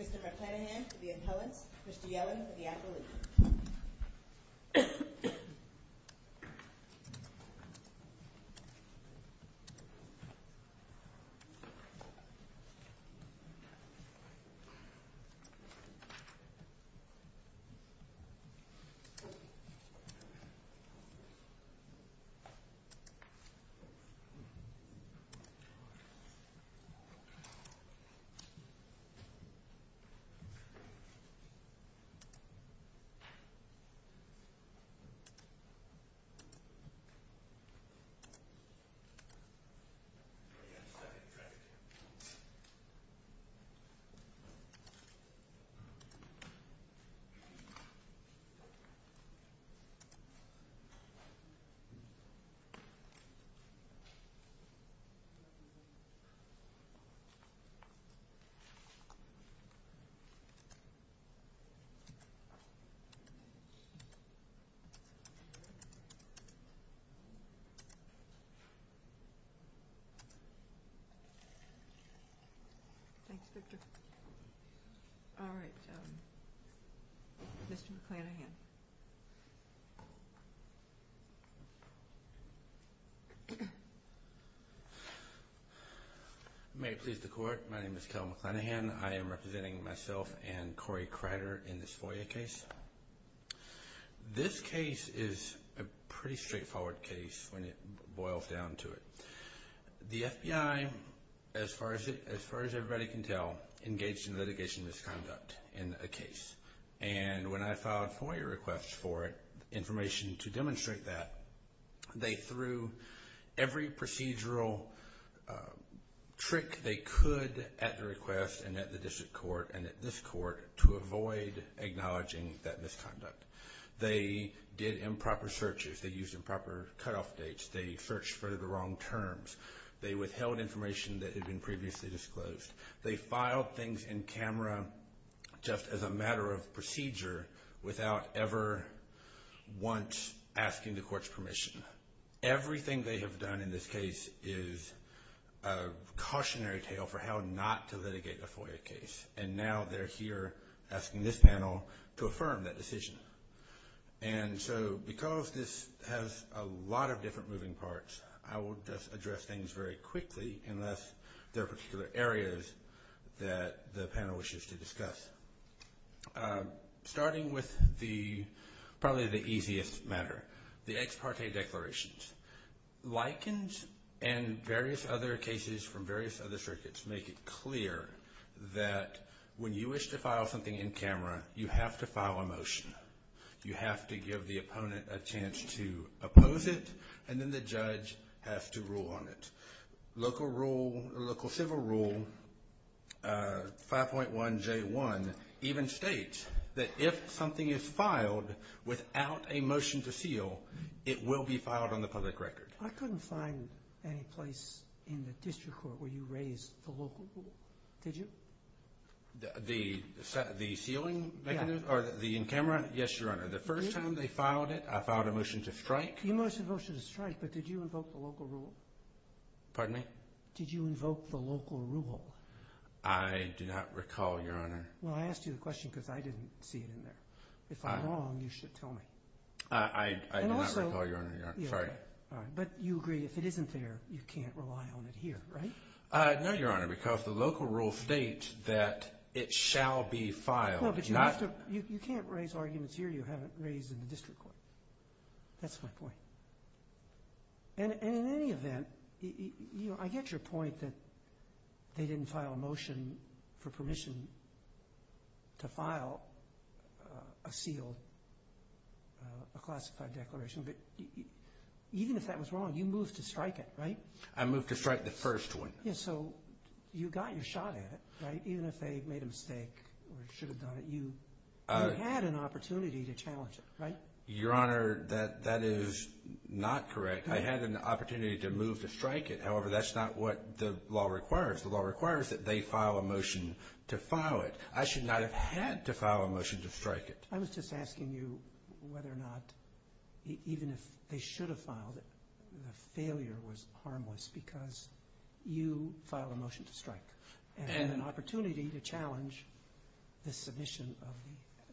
Mr. McClanahan for the appellant, Mr. Yellen for the appellant. Mr. McClanahan for the appellant, Mr. Yellen for the appellant. Mr. McClanahan for the appellant, Mr. Yellen for the appellant. Mr. McClanahan for the appellant, Mr. McClanahan. May it please the court, my name is Kel McClanahan. I am representing myself and Corey Crider in this FOIA case. This case is a pretty straightforward case when it boils down to it. The FBI, as far as everybody can tell, engaged in litigation misconduct in a case. And when I filed FOIA requests for information to demonstrate that, they threw every procedural trick they could at the request and at the district court and at this court to avoid acknowledging that misconduct. They did improper searches. They used improper cutoff dates. They searched for the wrong terms. They withheld information that had been previously disclosed. They filed things in camera just as a matter of procedure without ever once asking the court's permission. Everything they have done in this case is a cautionary tale for how not to litigate a FOIA case. And now they're here asking this panel to affirm that decision. And so because this has a lot of different moving parts, I will just address things very quickly unless there are particular areas that the panel wishes to discuss. Starting with probably the easiest matter, the ex parte declarations. Likens and various other cases from various other circuits make it clear that when you wish to file something in camera, you have to file a motion. You have to give the opponent a chance to oppose it, and then the judge has to rule on it. Local rule, local civil rule 5.1J1 even states that if something is filed without a motion to seal, it will be filed on the public record. I couldn't find any place in the district court where you raised the local rule. Did you? The sealing mechanism or the in camera? Yes, Your Honor. The first time they filed it, I filed a motion to strike. You motioned a motion to strike, but did you invoke the local rule? Pardon me? Did you invoke the local rule? I do not recall, Your Honor. Well, I asked you the question because I didn't see it in there. If I'm wrong, you should tell me. I do not recall, Your Honor. Sorry. But you agree if it isn't there, you can't rely on it here, right? No, Your Honor, because the local rule states that it shall be filed. You can't raise arguments here you haven't raised in the district court. That's my point. And in any event, I get your point that they didn't file a motion for permission to file a sealed, a classified declaration. But even if that was wrong, you moved to strike it, right? I moved to strike the first one. Yes, so you got your shot at it, right? Even if they made a mistake or should have done it, you had an opportunity to challenge it, right? Your Honor, that is not correct. I had an opportunity to move to strike it. However, that's not what the law requires. The law requires that they file a motion to file it. I should not have had to file a motion to strike it. I was just asking you whether or not even if they should have filed it, the failure was harmless because you filed a motion to strike and had an opportunity to challenge the submission of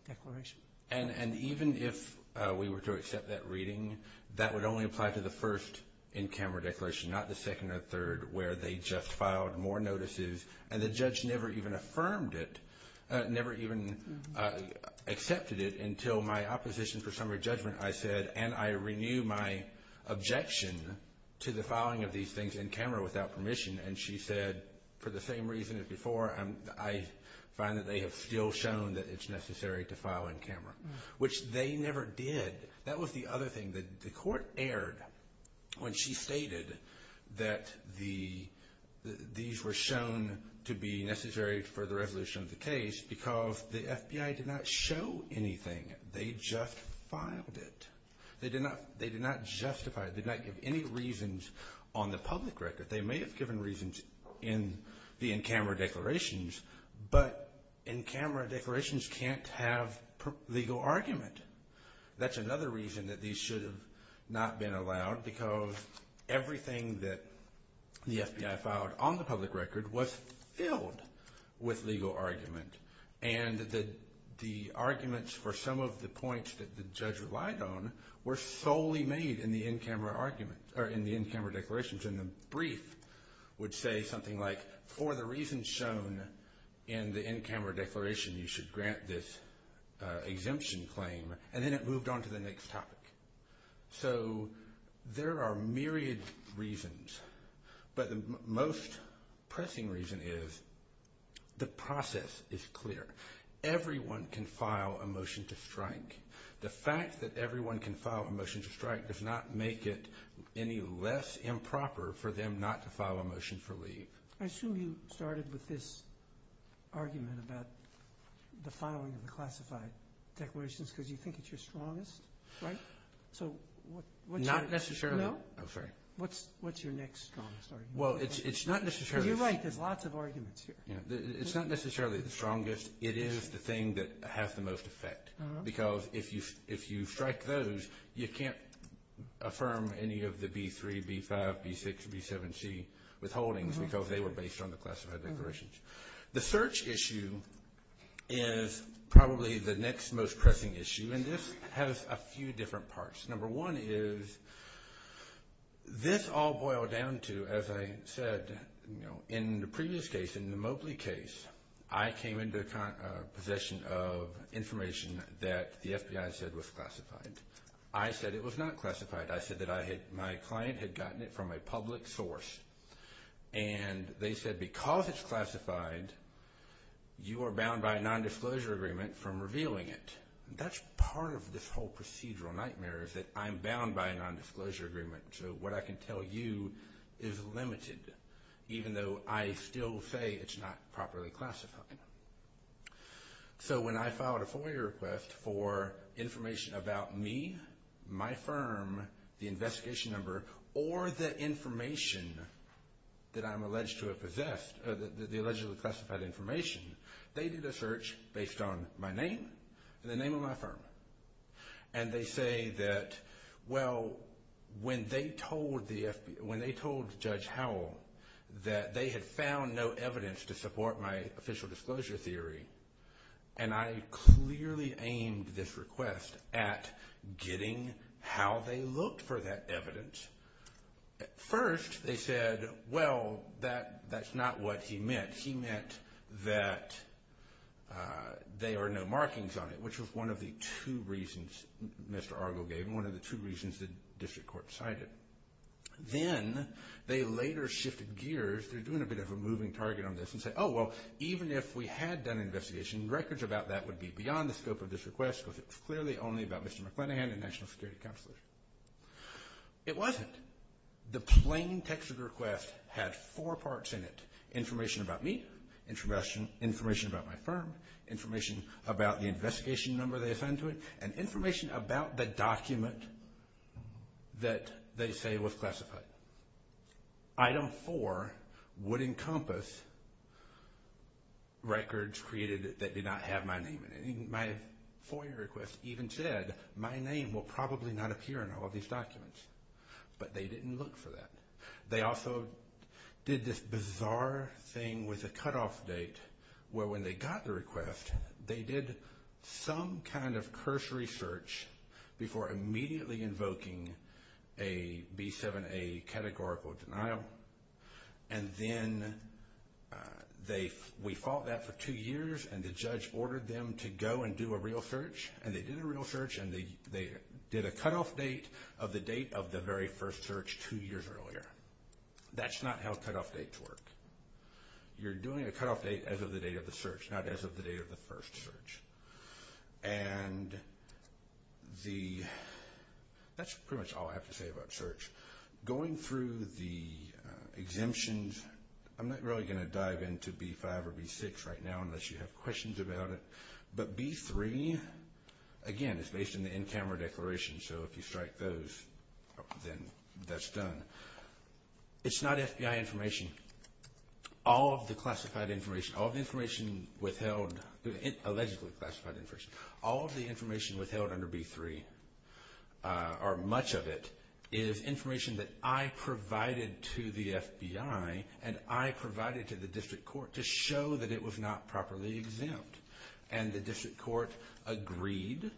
the declaration. And even if we were to accept that reading, that would only apply to the first in-camera declaration, not the second or third, where they just filed more notices and the judge never even affirmed it, never even accepted it until my opposition for summary judgment. I said, and I renew my objection to the filing of these things in-camera without permission. And she said, for the same reason as before, I find that they have still shown that it's necessary to file in-camera, which they never did. That was the other thing that the court aired when she stated that these were shown to be necessary for the resolution of the case because the FBI did not show anything. They just filed it. They did not justify it, did not give any reasons on the public record. They may have given reasons in the in-camera declarations, but in-camera declarations can't have legal argument. That's another reason that these should have not been allowed because everything that the FBI filed on the public record was filled with legal argument. And the arguments for some of the points that the judge relied on were solely made in the in-camera declarations. And the brief would say something like, for the reasons shown in the in-camera declaration, you should grant this exemption claim, and then it moved on to the next topic. So there are myriad reasons, but the most pressing reason is the process is clear. Everyone can file a motion to strike. The fact that everyone can file a motion to strike does not make it any less improper for them not to file a motion for leave. I assume you started with this argument about the filing of the classified declarations because you think it's your strongest, right? Not necessarily. No? I'm sorry. What's your next strongest argument? Well, it's not necessarily. You're right. There's lots of arguments here. It's not necessarily the strongest. It is the thing that has the most effect because if you strike those, you can't affirm any of the B3, B5, B6, B7C withholdings because they were based on the classified declarations. The search issue is probably the next most pressing issue, and this has a few different parts. Number one is this all boiled down to, as I said, in the previous case, in the Mobley case, I came into possession of information that the FBI said was classified. I said it was not classified. I said that my client had gotten it from a public source, and they said because it's classified, you are bound by a nondisclosure agreement from revealing it. That's part of this whole procedural nightmare is that I'm bound by a nondisclosure agreement, so what I can tell you is limited, even though I still say it's not properly classified. So when I filed a FOIA request for information about me, my firm, the investigation number, or the information that I'm alleged to have possessed, the allegedly classified information, they did a search based on my name and the name of my firm, and they say that, well, when they told Judge Howell that they had found no evidence to support my official disclosure theory, and I clearly aimed this request at getting how they looked for that evidence. First they said, well, that's not what he meant. He meant that there are no markings on it, which was one of the two reasons Mr. Argo gave and one of the two reasons the district court decided. Then they later shifted gears. They're doing a bit of a moving target on this and say, oh, well, even if we had done an investigation, records about that would be beyond the scope of this request because it's clearly only about Mr. McClenaghan and National Security Counselors. It wasn't. The plain text of the request had four parts in it, information about me, information about my firm, information about the investigation number they assigned to it, and information about the document that they say was classified. Item four would encompass records created that did not have my name in it. My FOIA request even said my name will probably not appear in all these documents, but they didn't look for that. They also did this bizarre thing with a cutoff date where when they got the request, they did some kind of cursory search before immediately invoking a B7A categorical denial, and then we fought that for two years, and the judge ordered them to go and do a real search, and they did a real search, and they did a cutoff date of the date of the very first search two years earlier. That's not how cutoff dates work. You're doing a cutoff date as of the date of the search, not as of the date of the first search, and that's pretty much all I have to say about search. Going through the exemptions, I'm not really going to dive into B5 or B6 right now unless you have questions about it, but B3, again, it's based on the in-camera declaration, so if you strike those, then that's done. It's not FBI information. All of the classified information, all of the information withheld, allegedly classified information, all of the information withheld under B3 or much of it is information that I provided to the FBI and I provided to the district court to show that it was not properly exempt, and the district court agreed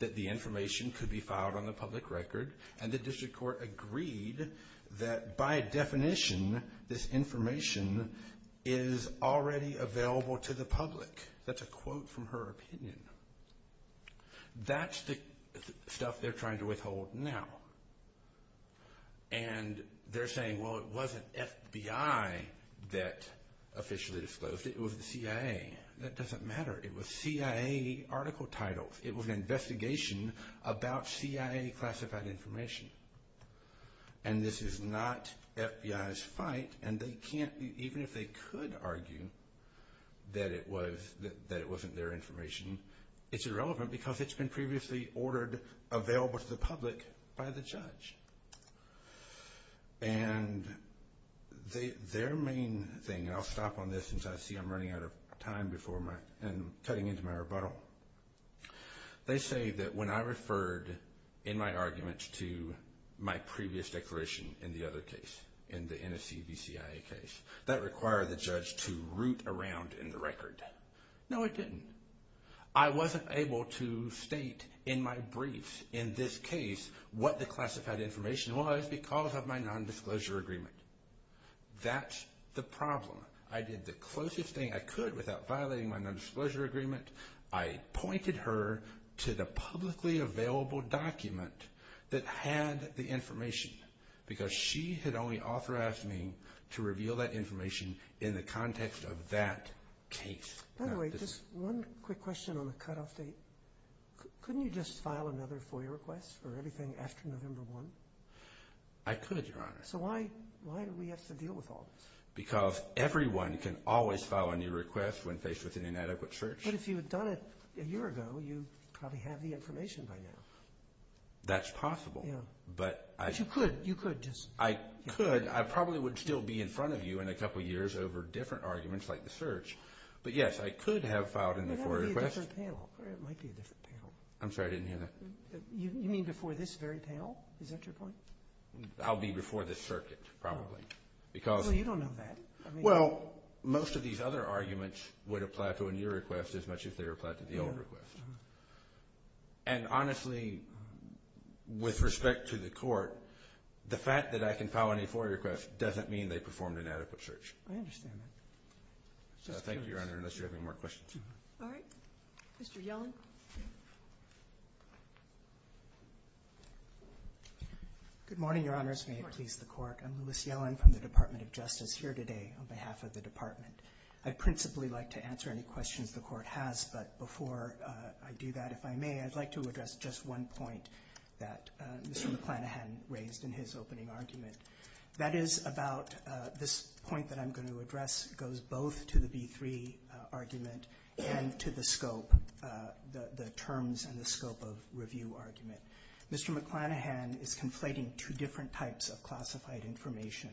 that the information could be filed on the public record, and the district court agreed that by definition this information is already available to the public. That's a quote from her opinion. That's the stuff they're trying to withhold now, and they're saying, well, it wasn't FBI that officially disclosed it. It was the CIA. That doesn't matter. It was CIA article titles. It was an investigation about CIA classified information, and this is not FBI's fight, and they can't, even if they could argue that it wasn't their information, it's irrelevant because it's been previously ordered available to the public by the judge, and their main thing, and I'll stop on this since I see I'm running out of time and cutting into my rebuttal. They say that when I referred in my arguments to my previous declaration in the other case, in the NSC v. CIA case, that required the judge to root around in the record. No, it didn't. I wasn't able to state in my brief in this case what the classified information was because of my nondisclosure agreement. That's the problem. I did the closest thing I could without violating my nondisclosure agreement. I pointed her to the publicly available document that had the information because she had only authorized me to reveal that information in the context of that case. By the way, just one quick question on the cutoff date. Couldn't you just file another FOIA request for everything after November 1? I could, Your Honor. So why do we have to deal with all this? Because everyone can always file a new request when faced with an inadequate search. But if you had done it a year ago, you probably have the information by now. That's possible. But you could. I could. I probably would still be in front of you in a couple years over different arguments like the search. But, yes, I could have filed an FOIA request. It might be a different panel. I'm sorry, I didn't hear that. You mean before this very panel? Is that your point? I'll be before the circuit probably. Well, you don't know that. Well, most of these other arguments would apply to a new request as much as they would apply to the old request. And, honestly, with respect to the Court, the fact that I can file any FOIA request doesn't mean they performed an adequate search. I understand that. Thank you, Your Honor, unless you have any more questions. All right. Mr. Yellen. Good morning, Your Honors. May it please the Court. I'm Lewis Yellen from the Department of Justice here today on behalf of the Department. I'd principally like to answer any questions the Court has, but before I do that, if I may, I'd like to address just one point that Mr. McClanahan raised in his opening argument. That is about this point that I'm going to address goes both to the B-3 argument and to the scope, the terms and the scope of review argument. Mr. McClanahan is conflating two different types of classified information.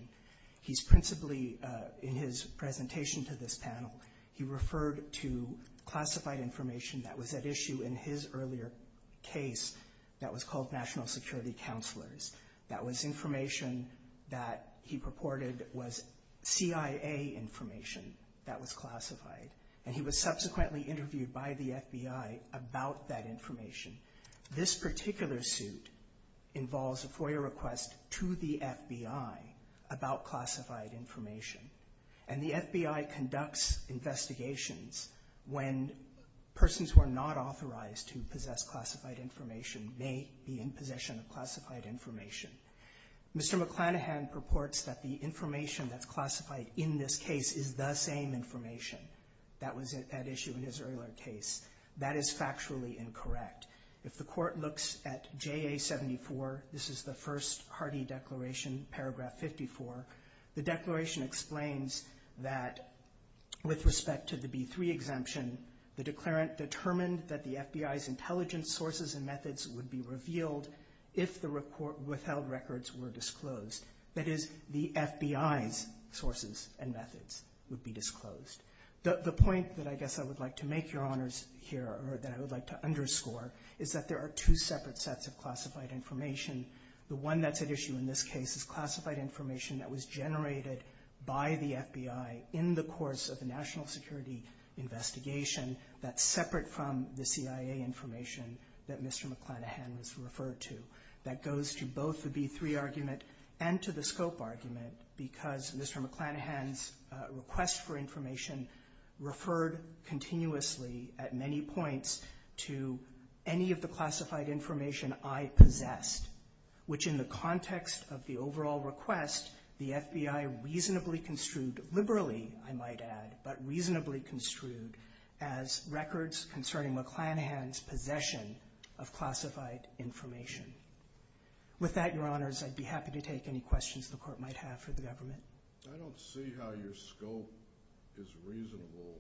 He's principally, in his presentation to this panel, he referred to classified information that was at issue in his earlier case that was called National Security Counselors. That was information that he purported was CIA information that was classified, and he was subsequently interviewed by the FBI about that information. This particular suit involves a FOIA request to the FBI about classified information, and the FBI conducts investigations when persons who are not authorized to possess classified information may be in possession of classified information. Mr. McClanahan purports that the information that's classified in this case is the same information that was at issue in his earlier case. That is factually incorrect. If the Court looks at JA-74, this is the first hardy declaration, paragraph 54, the declaration explains that with respect to the B-3 exemption, the declarant determined that the FBI's intelligence sources and methods would be revealed if the withheld records were disclosed. That is, the FBI's sources and methods would be disclosed. The point that I guess I would like to make, Your Honors, here, or that I would like to underscore, is that there are two separate sets of classified information. The one that's at issue in this case is classified information that was generated by the FBI in the course of the national security investigation that's separate from the CIA information that Mr. McClanahan was referred to. That goes to both the B-3 argument and to the scope argument because Mr. McClanahan's request for information referred continuously at many points to any of the classified information I possessed, which in the context of the overall request, the FBI reasonably construed, liberally, I might add, but reasonably construed as records concerning McClanahan's possession of classified information. With that, Your Honors, I'd be happy to take any questions the Court might have for the government. I don't see how your scope is reasonable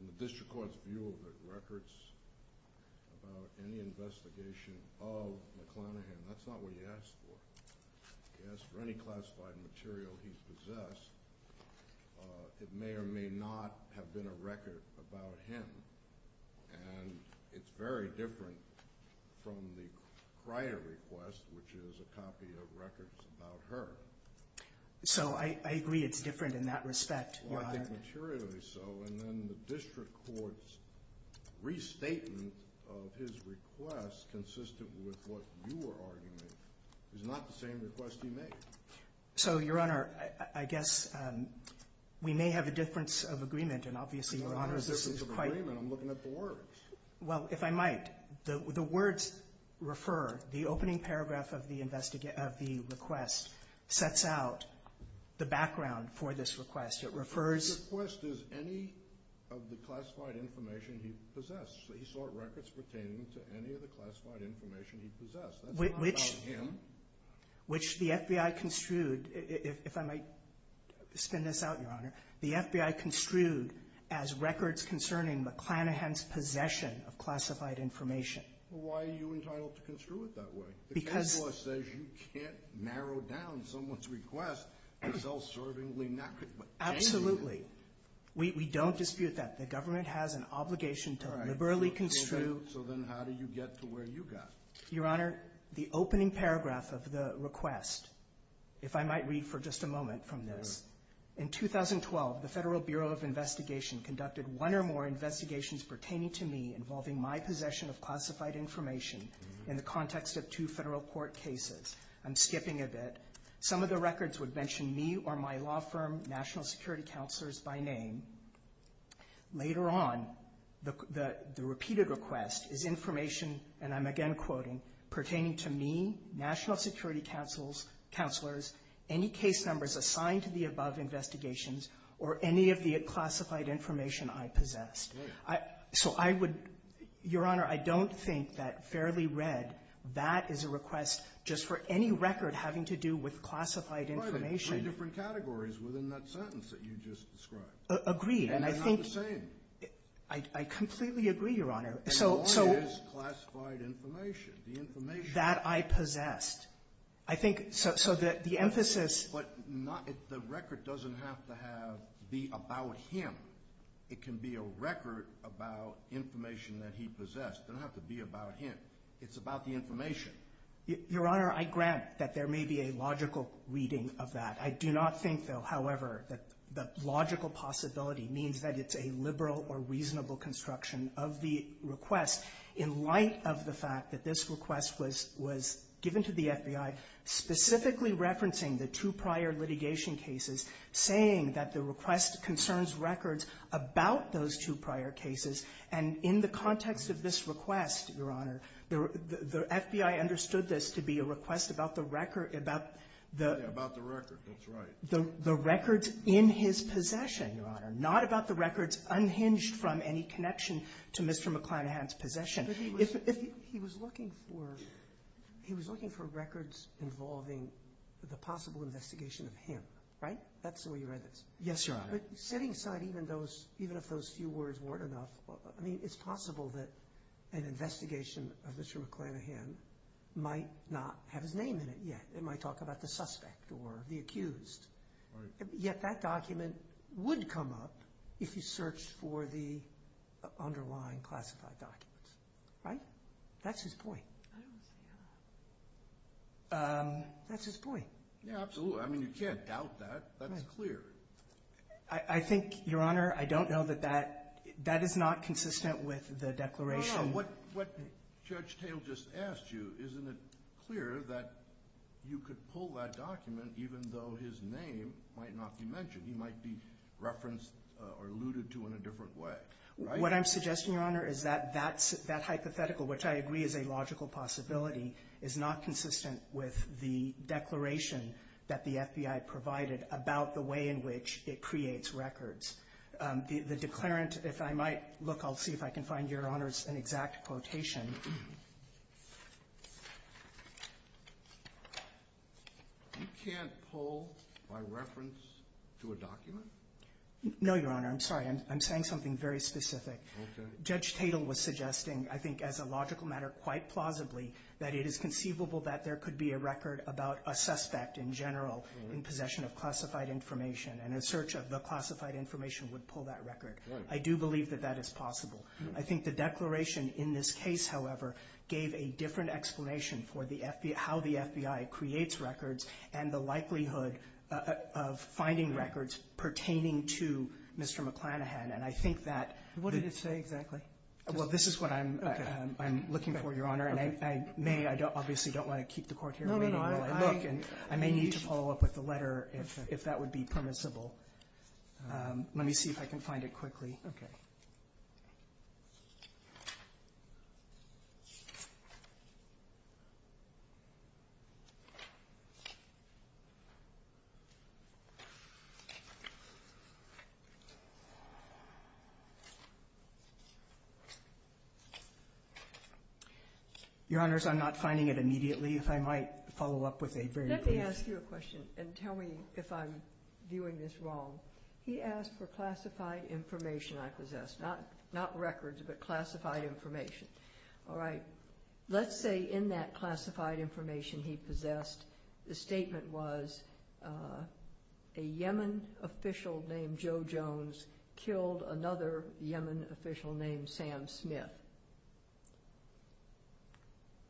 in the district court's view of the records about any investigation of McClanahan. That's not what he asked for. He asked for any classified material he possessed. It may or may not have been a record about him. And it's very different from the prior request, which is a copy of records about her. So I agree it's different in that respect, Your Honor. I think materially so, and then the district court's restatement of his request consistent with what you were arguing is not the same request he made. So, Your Honor, I guess we may have a difference of agreement, and obviously, Your Honor, this is quite— It's not a difference of agreement. I'm looking at the words. Well, if I might, the words refer, the opening paragraph of the request sets out the background for this request. It refers— The request is any of the classified information he possessed. He sought records pertaining to any of the classified information he possessed. That's not about him. Which the FBI construed, if I might spin this out, Your Honor, the FBI construed as records concerning McClanahan's possession of classified information. Why are you entitled to construe it that way? Because— The case law says you can't narrow down someone's request to self-servingly not— Absolutely. We don't dispute that. The government has an obligation to liberally construe— So then how do you get to where you got? Your Honor, the opening paragraph of the request, if I might read for just a moment from this, in 2012, the Federal Bureau of Investigation conducted one or more investigations pertaining to me involving my possession of classified information in the context of two federal court cases. I'm skipping a bit. Some of the records would mention me or my law firm, national security counselors by name. Later on, the repeated request is information, and I'm again quoting, pertaining to me, national security counselors, any case numbers assigned to the above investigations, or any of the classified information I possessed. So I would—Your Honor, I don't think that fairly read, that is a request just for any record having to do with classified information. There are three different categories within that sentence that you just described. Agreed. And they're not the same. I completely agree, Your Honor. And one is classified information. The information— That I possessed. I think—so the emphasis— But not—the record doesn't have to have—be about him. It can be a record about information that he possessed. It doesn't have to be about him. It's about the information. Your Honor, I grant that there may be a logical reading of that. I do not think, though, however, that the logical possibility means that it's a liberal or reasonable construction of the request in light of the fact that this request was given to the FBI specifically referencing the two prior litigation cases, saying that the request concerns records about those two prior cases. And in the context of this request, Your Honor, the FBI understood this to be a request about the record— About the record. That's right. in his possession, Your Honor, not about the records unhinged from any connection to Mr. McClanahan's possession. But he was looking for records involving the possible investigation of him, right? That's the way you read this. Yes, Your Honor. But setting aside even if those few words weren't enough, I mean, it's possible that an investigation of Mr. McClanahan might not have his name in it yet. It might talk about the suspect or the accused, yet that document would come up if he searched for the underlying classified documents, right? That's his point. I don't see how. That's his point. Yeah, absolutely. I mean, you can't doubt that. That's clear. I think, Your Honor, I don't know that that is not consistent with the declaration— that you could pull that document even though his name might not be mentioned. He might be referenced or alluded to in a different way, right? What I'm suggesting, Your Honor, is that that hypothetical, which I agree is a logical possibility, is not consistent with the declaration that the FBI provided about the way in which it creates records. The declarant, if I might look, I'll see if I can find, Your Honor, an exact quotation. You can't pull by reference to a document? No, Your Honor. I'm sorry. I'm saying something very specific. Okay. Judge Tatel was suggesting, I think as a logical matter, quite plausibly, that it is conceivable that there could be a record about a suspect in general in possession of classified information, and a search of the classified information would pull that record. Right. I do believe that that is possible. I think the declaration in this case, however, gave a different explanation for the FBI—how the FBI creates records and the likelihood of finding records pertaining to Mr. McClanahan. And I think that— What did it say exactly? Well, this is what I'm— Okay. I'm looking for, Your Honor. Okay. And I may—I obviously don't want to keep the Court here waiting while I look. No, no, no. I— I may need to follow up with the letter if that would be permissible. Let me see if I can find it quickly. Okay. Your Honors, I'm not finding it immediately. If I might follow up with a very brief— Let me ask you a question and tell me if I'm viewing this wrong. He asked for classified information I possessed. Not records, but classified information. All right. Let's say in that classified information he possessed, the statement was, a Yemen official named Joe Jones killed another Yemen official named Sam Smith.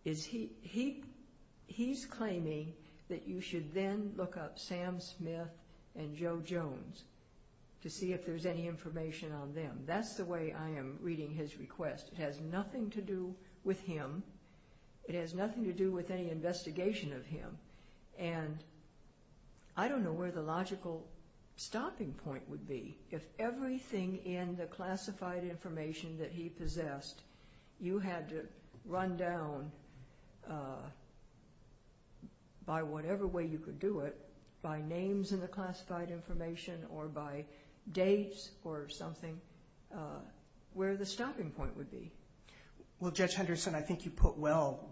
Is he—he's claiming that you should then look up Sam Smith and Joe Jones to see if there's any information on them. That's the way I am reading his request. It has nothing to do with him. It has nothing to do with any investigation of him. And I don't know where the logical stopping point would be. If everything in the classified information that he possessed, you had to run down by whatever way you could do it, by names in the classified information or by dates or something, where the stopping point would be. Well, Judge Henderson, I think you put well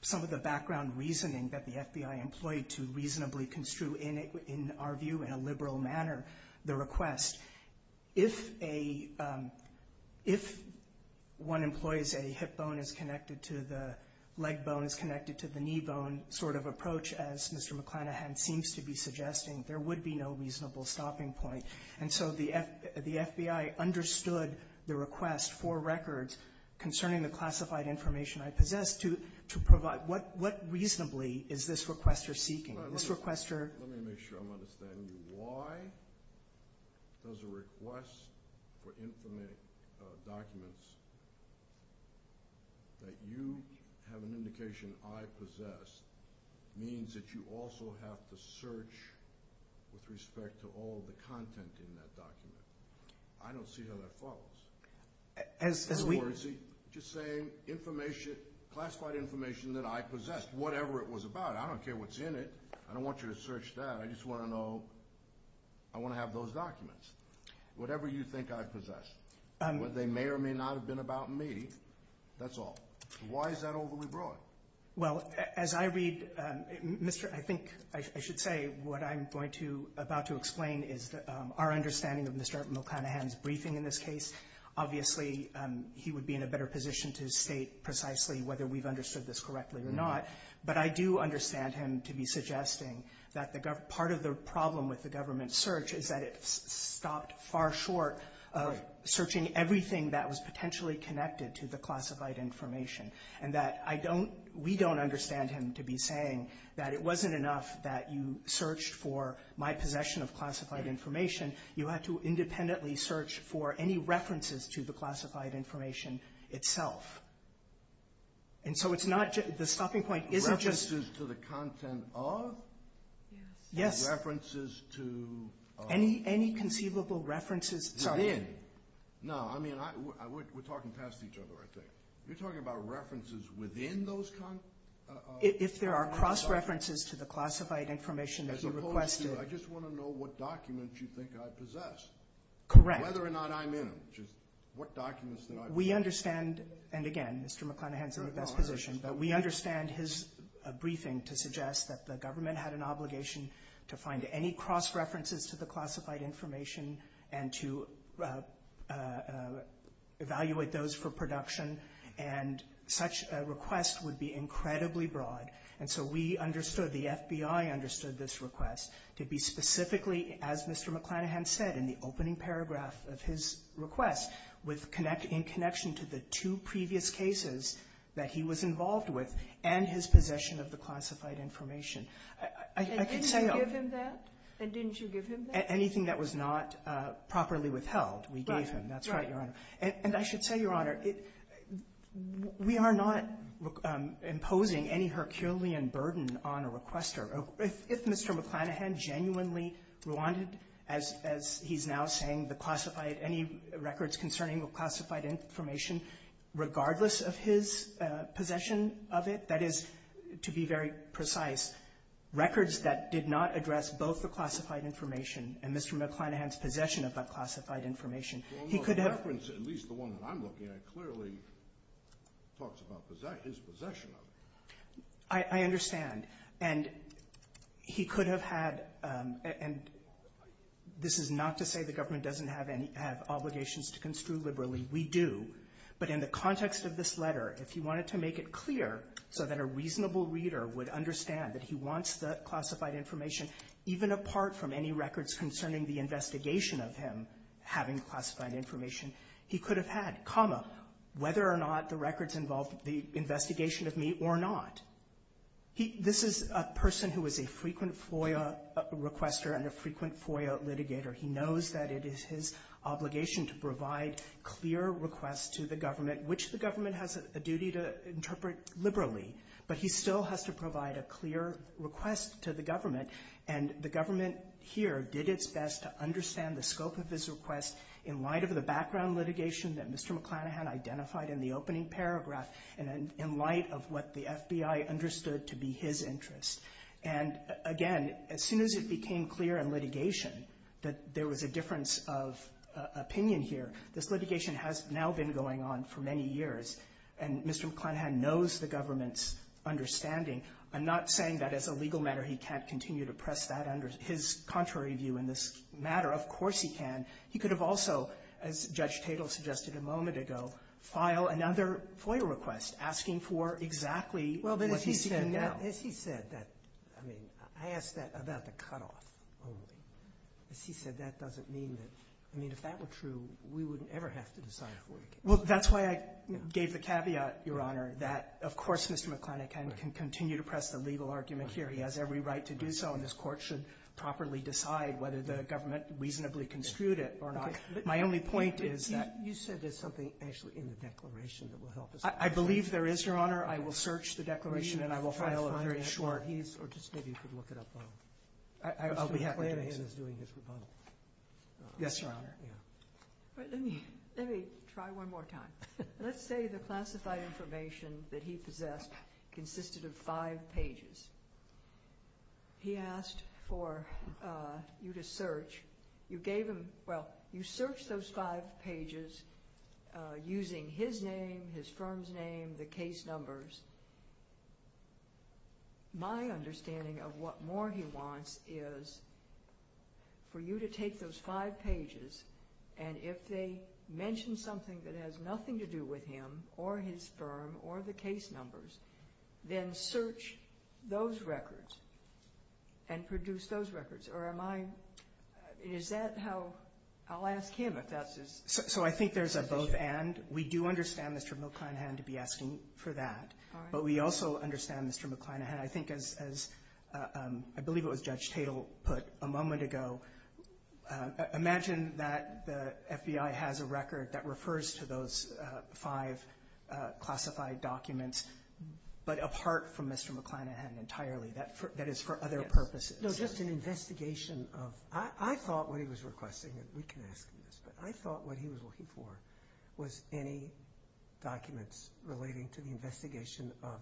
some of the background reasoning that the FBI employed to reasonably construe, in our view, in a liberal manner, the request. If a—if one employs a hip bone is connected to the leg bone is connected to the knee bone sort of approach, as Mr. McClanahan seems to be suggesting, there would be no reasonable stopping point. And so the FBI understood the request for records concerning the classified information I possessed to provide. What reasonably is this requester seeking? Let me make sure I'm understanding you. Why does a request for documents that you have an indication I possess means that you also have to search with respect to all the content in that document? I don't see how that follows. Or is he just saying classified information that I possess, whatever it was about, I don't care what's in it, I don't want you to search that, I just want to know, I want to have those documents, whatever you think I possess. They may or may not have been about me, that's all. Why is that overly broad? Well, as I read, Mr.—I think I should say what I'm going to—about to explain is our understanding of Mr. McClanahan's briefing in this case. Obviously, he would be in a better position to state precisely whether we've understood this correctly or not. But I do understand him to be suggesting that part of the problem with the government search is that it stopped far short of searching everything that was potentially connected to the classified information. And that I don't—we don't understand him to be saying that it wasn't enough that you searched for my possession of classified information, you had to independently search for any references to the classified information itself. And so it's not—the stopping point isn't just— References to the content of? Yes. References to— Any conceivable references— Within. No, I mean, we're talking past each other, I think. You're talking about references within those— If there are cross-references to the classified information that you requested. As opposed to, I just want to know what documents you think I possess. Correct. Whether or not I'm in them, just what documents that I possess. We understand, and again, Mr. McClanahan's in the best position, but we understand his briefing to suggest that the government had an obligation to find any cross-references to the classified information and to evaluate those for production. And such a request would be incredibly broad. And so we understood, the FBI understood this request to be specifically, as Mr. McClanahan said in the opening paragraph of his request, in connection to the two previous cases that he was involved with and his possession of the classified information. I can say— And didn't you give him that? And didn't you give him that? Anything that was not properly withheld, we gave him. That's right, Your Honor. And I should say, Your Honor, we are not imposing any Herculean burden on a requester. If Mr. McClanahan genuinely wanted, as he's now saying, the classified any records concerning the classified information, regardless of his possession of it, that is, to be very precise, records that did not address both the classified information and Mr. McClanahan's possession of that classified information, he could have— Well, the reference, at least the one that I'm looking at, clearly talks about his possession of it. I understand. And he could have had—and this is not to say the government doesn't have any obligations to construe liberally. We do. But in the context of this letter, if he wanted to make it clear so that a reasonable reader would understand that he wants the classified information, even apart from any records concerning the investigation of him having classified information, he could have had, comma, whether or not the records involved the investigation of me or not. This is a person who is a frequent FOIA requester and a frequent FOIA litigator. He knows that it is his obligation to provide clear requests to the government, which the government has a duty to interpret liberally. But he still has to provide a clear request to the government, and the government here did its best to understand the scope of his request in light of the background litigation that Mr. McClanahan identified in the opening paragraph and in light of what the FBI understood to be his interest. And again, as soon as it became clear in litigation that there was a difference of opinion here, this litigation has now been going on for many years, and Mr. McClanahan knows the government's understanding. I'm not saying that as a legal matter he can't continue to press that under his contrary view in this matter. Of course he can. He could have also, as Judge Tatel suggested a moment ago, file another FOIA request asking for exactly what he's seeking now. Roberts. Well, but as he said that, I mean, I asked that about the cutoff only. As he said, that doesn't mean that. I mean, if that were true, we wouldn't ever have to decide FOIA cases. Well, that's why I gave the caveat, Your Honor, that, of course, Mr. McClanahan can continue to press the legal argument here. He has every right to do so, and this Court should properly decide whether the government reasonably construed it or not. My only point is that you said there's something actually in the declaration that will help us. I believe there is, Your Honor. I will search the declaration, and I will file a very short. Or just maybe you could look it up. I'll be happy to do that. Mr. McClanahan is doing his rebuttal. Yes, Your Honor. Let me try one more time. Let's say the classified information that he possessed consisted of five pages. He asked for you to search. You gave him – well, you searched those five pages using his name, his firm's name, the case numbers. My understanding of what more he wants is for you to take those five pages, and if they mention something that has nothing to do with him or his firm or the case numbers, then search those records and produce those records. Or am I – is that how – I'll ask him if that's his decision. So I think there's a both and. We do understand Mr. McClanahan to be asking for that. All right. But we also understand Mr. McClanahan. I think as – I believe it was Judge Tatel put a moment ago, imagine that the FBI has a record that refers to those five classified documents, but apart from Mr. McClanahan entirely. That is for other purposes. No, just an investigation of – I thought what he was requesting, and we can ask you this, but I thought what he was looking for was any documents relating to the investigation of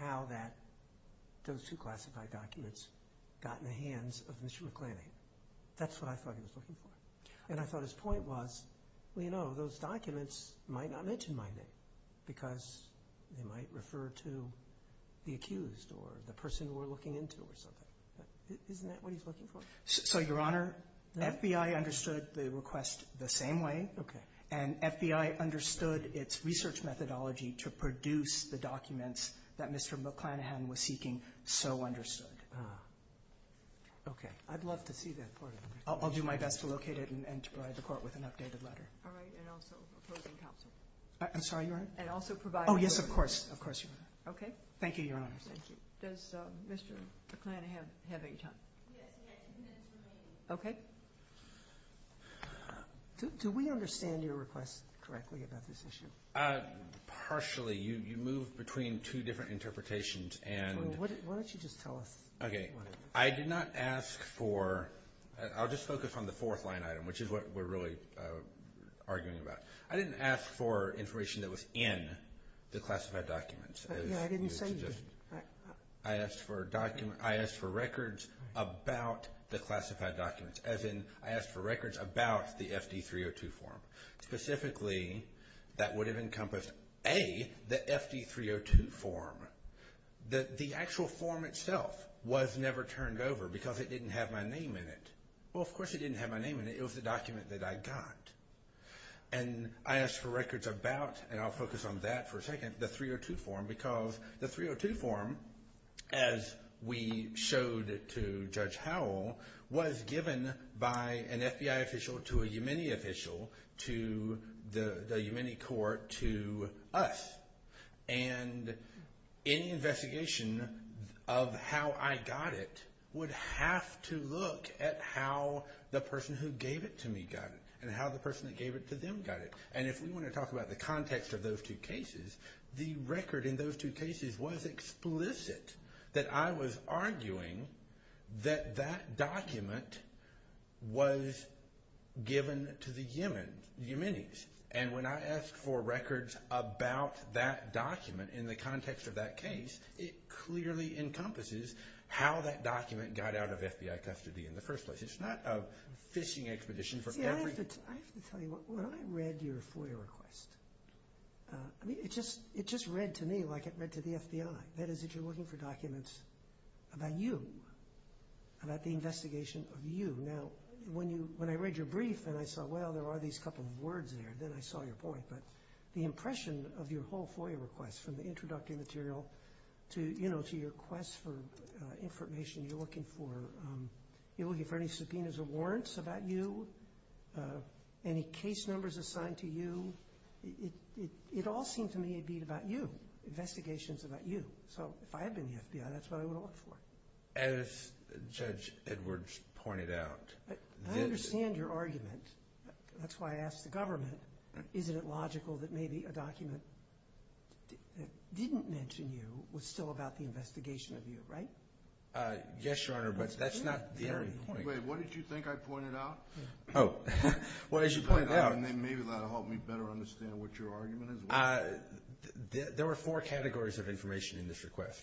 how that – those two classified documents got in the hands of Mr. McClanahan. That's what I thought he was looking for. And I thought his point was, well, you know, those documents might not mention my name because they might refer to the accused or the person we're looking into or something. Isn't that what he's looking for? So, Your Honor, the FBI understood the request the same way. Okay. And FBI understood its research methodology to produce the documents that Mr. McClanahan was seeking so understood. Ah. Okay. I'd love to see that part of it. I'll do my best to locate it and provide the Court with an updated letter. All right. And also opposing counsel. I'm sorry, Your Honor? And also provide – Oh, yes, of course. Of course, Your Honor. Okay. Thank you, Your Honor. Thank you. Does Mr. McClanahan have any time? Yes, he has two minutes remaining. Okay. Do we understand your request correctly about this issue? Partially. You moved between two different interpretations and – Well, why don't you just tell us? Okay. I did not ask for – I'll just focus on the fourth line item, which is what we're really arguing about. I didn't ask for information that was in the classified documents. Yeah, I didn't say you did. I asked for records about the classified documents, as in I asked for records about the FD-302 form. Specifically, that would have encompassed, A, the FD-302 form. The actual form itself was never turned over because it didn't have my name in it. Well, of course it didn't have my name in it. It was the document that I got. And I asked for records about, and I'll focus on that for a second, the 302 form because the 302 form, as we showed to Judge Howell, was given by an FBI official to a Umini official to the Umini court to us. And any investigation of how I got it would have to look at how the person who gave it to me got it and how the person who gave it to them got it. And if we want to talk about the context of those two cases, the record in those two cases was explicit that I was arguing that that document was given to the Uminis. And when I asked for records about that document in the context of that case, it clearly encompasses how that document got out of FBI custody in the first place. It's not a fishing expedition for every... I have to tell you, when I read your FOIA request, I mean, it just read to me like it read to the FBI. That is that you're looking for documents about you, about the investigation of you. Now, when I read your brief and I saw, well, there are these couple of words there, then I saw your point. But the impression of your whole FOIA request from the introductory material to, you know, to your request for information you're looking for, you're looking for any subpoenas or warrants about you, any case numbers assigned to you, it all seemed to me to be about you, investigations about you. So if I had been the FBI, that's what I would have looked for. As Judge Edwards pointed out... I understand your argument. That's why I asked the government, isn't it logical that maybe a document that didn't mention you was still about the investigation of you, right? Yes, Your Honor, but that's not the only point. Wait, what did you think I pointed out? Oh, well, as you pointed out... Maybe that will help me better understand what your argument is. There were four categories of information in this request.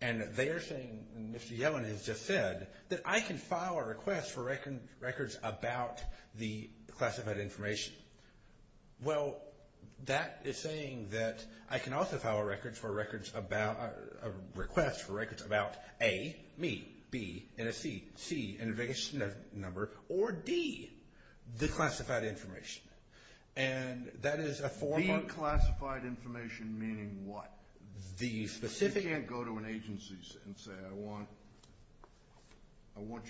And they are saying, and Mr. Yellen has just said, that I can file a request for records about the classified information. Well, that is saying that I can also file a request for records about A, me, B, and a C, C, an investigation number, or D, the classified information. And that is a form of... The classified information meaning what? You can't go to an agency and say, I want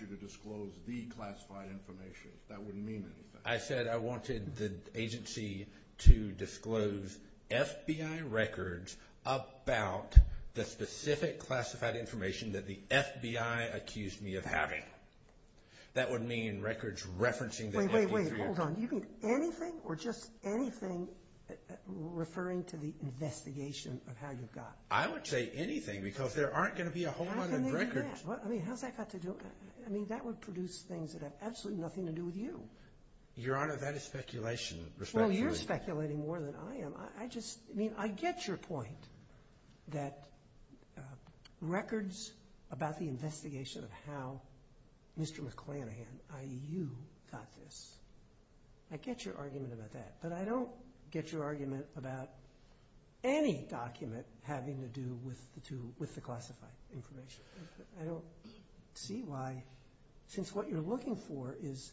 you to disclose the classified information. That wouldn't mean anything. I said I wanted the agency to disclose FBI records about the specific classified information that the FBI accused me of having. Wait, wait, hold on. You mean anything or just anything referring to the investigation of how you got... I would say anything because there aren't going to be a whole lot of records. How can they do that? I mean, how's that got to do... I mean, that would produce things that have absolutely nothing to do with you. Your Honor, that is speculation. Well, you're speculating more than I am. I get your point that records about the investigation of how Mr. McClanahan, i.e., you, got this. I get your argument about that, but I don't get your argument about any document having to do with the classified information. I don't see why, since what you're looking for is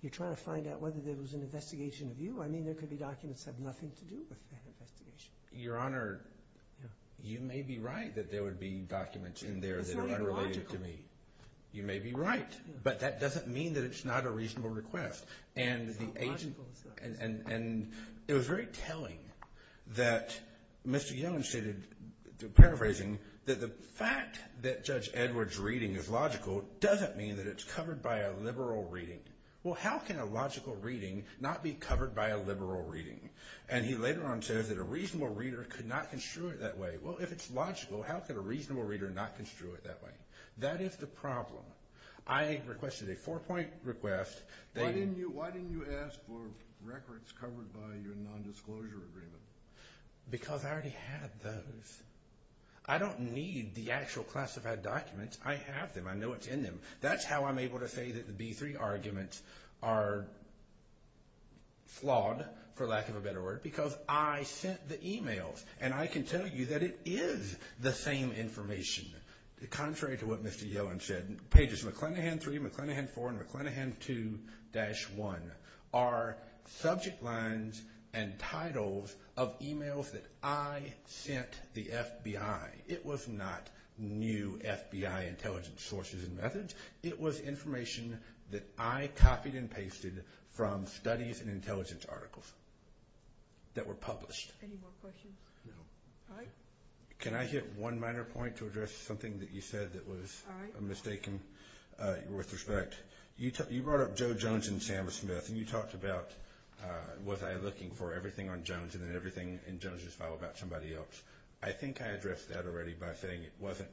you're trying to find out whether there was an investigation of you. I mean, there could be documents that have nothing to do with the investigation. Your Honor, you may be right that there would be documents in there that are unrelated to me. It's not even logical. You may be right, but that doesn't mean that it's not a reasonable request. It's not logical. And it was very telling that Mr. Yellen stated, paraphrasing, that the fact that Judge Edwards' reading is logical doesn't mean that it's covered by a liberal reading. Well, how can a logical reading not be covered by a liberal reading? And he later on says that a reasonable reader could not construe it that way. Well, if it's logical, how could a reasonable reader not construe it that way? That is the problem. I requested a four-point request. Why didn't you ask for records covered by your nondisclosure agreement? Because I already had those. I don't need the actual classified documents. I have them. I know it's in them. That's how I'm able to say that the B-3 arguments are flawed, for lack of a better word, because I sent the e-mails. And I can tell you that it is the same information. Contrary to what Mr. Yellen said, pages McClenahan 3, McClenahan 4, and McClenahan 2-1 are subject lines and titles of e-mails that I sent the FBI. It was not new FBI intelligence sources and methods. It was information that I copied and pasted from studies and intelligence articles that were published. Any more questions? No. All right. Can I hit one minor point to address something that you said that was mistaken? All right. With respect, you brought up Joe Jones and Sam Smith, and you talked about was I looking for everything on Jones and then everything in Jones's file about somebody else. I think I addressed that already by saying it wasn't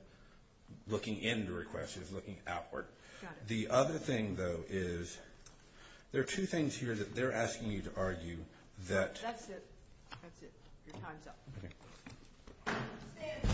looking into requests. It was looking outward. Got it. The other thing, though, is there are two things here that they're asking you to argue that— That's it. That's it. Your time's up. Okay. Stand in.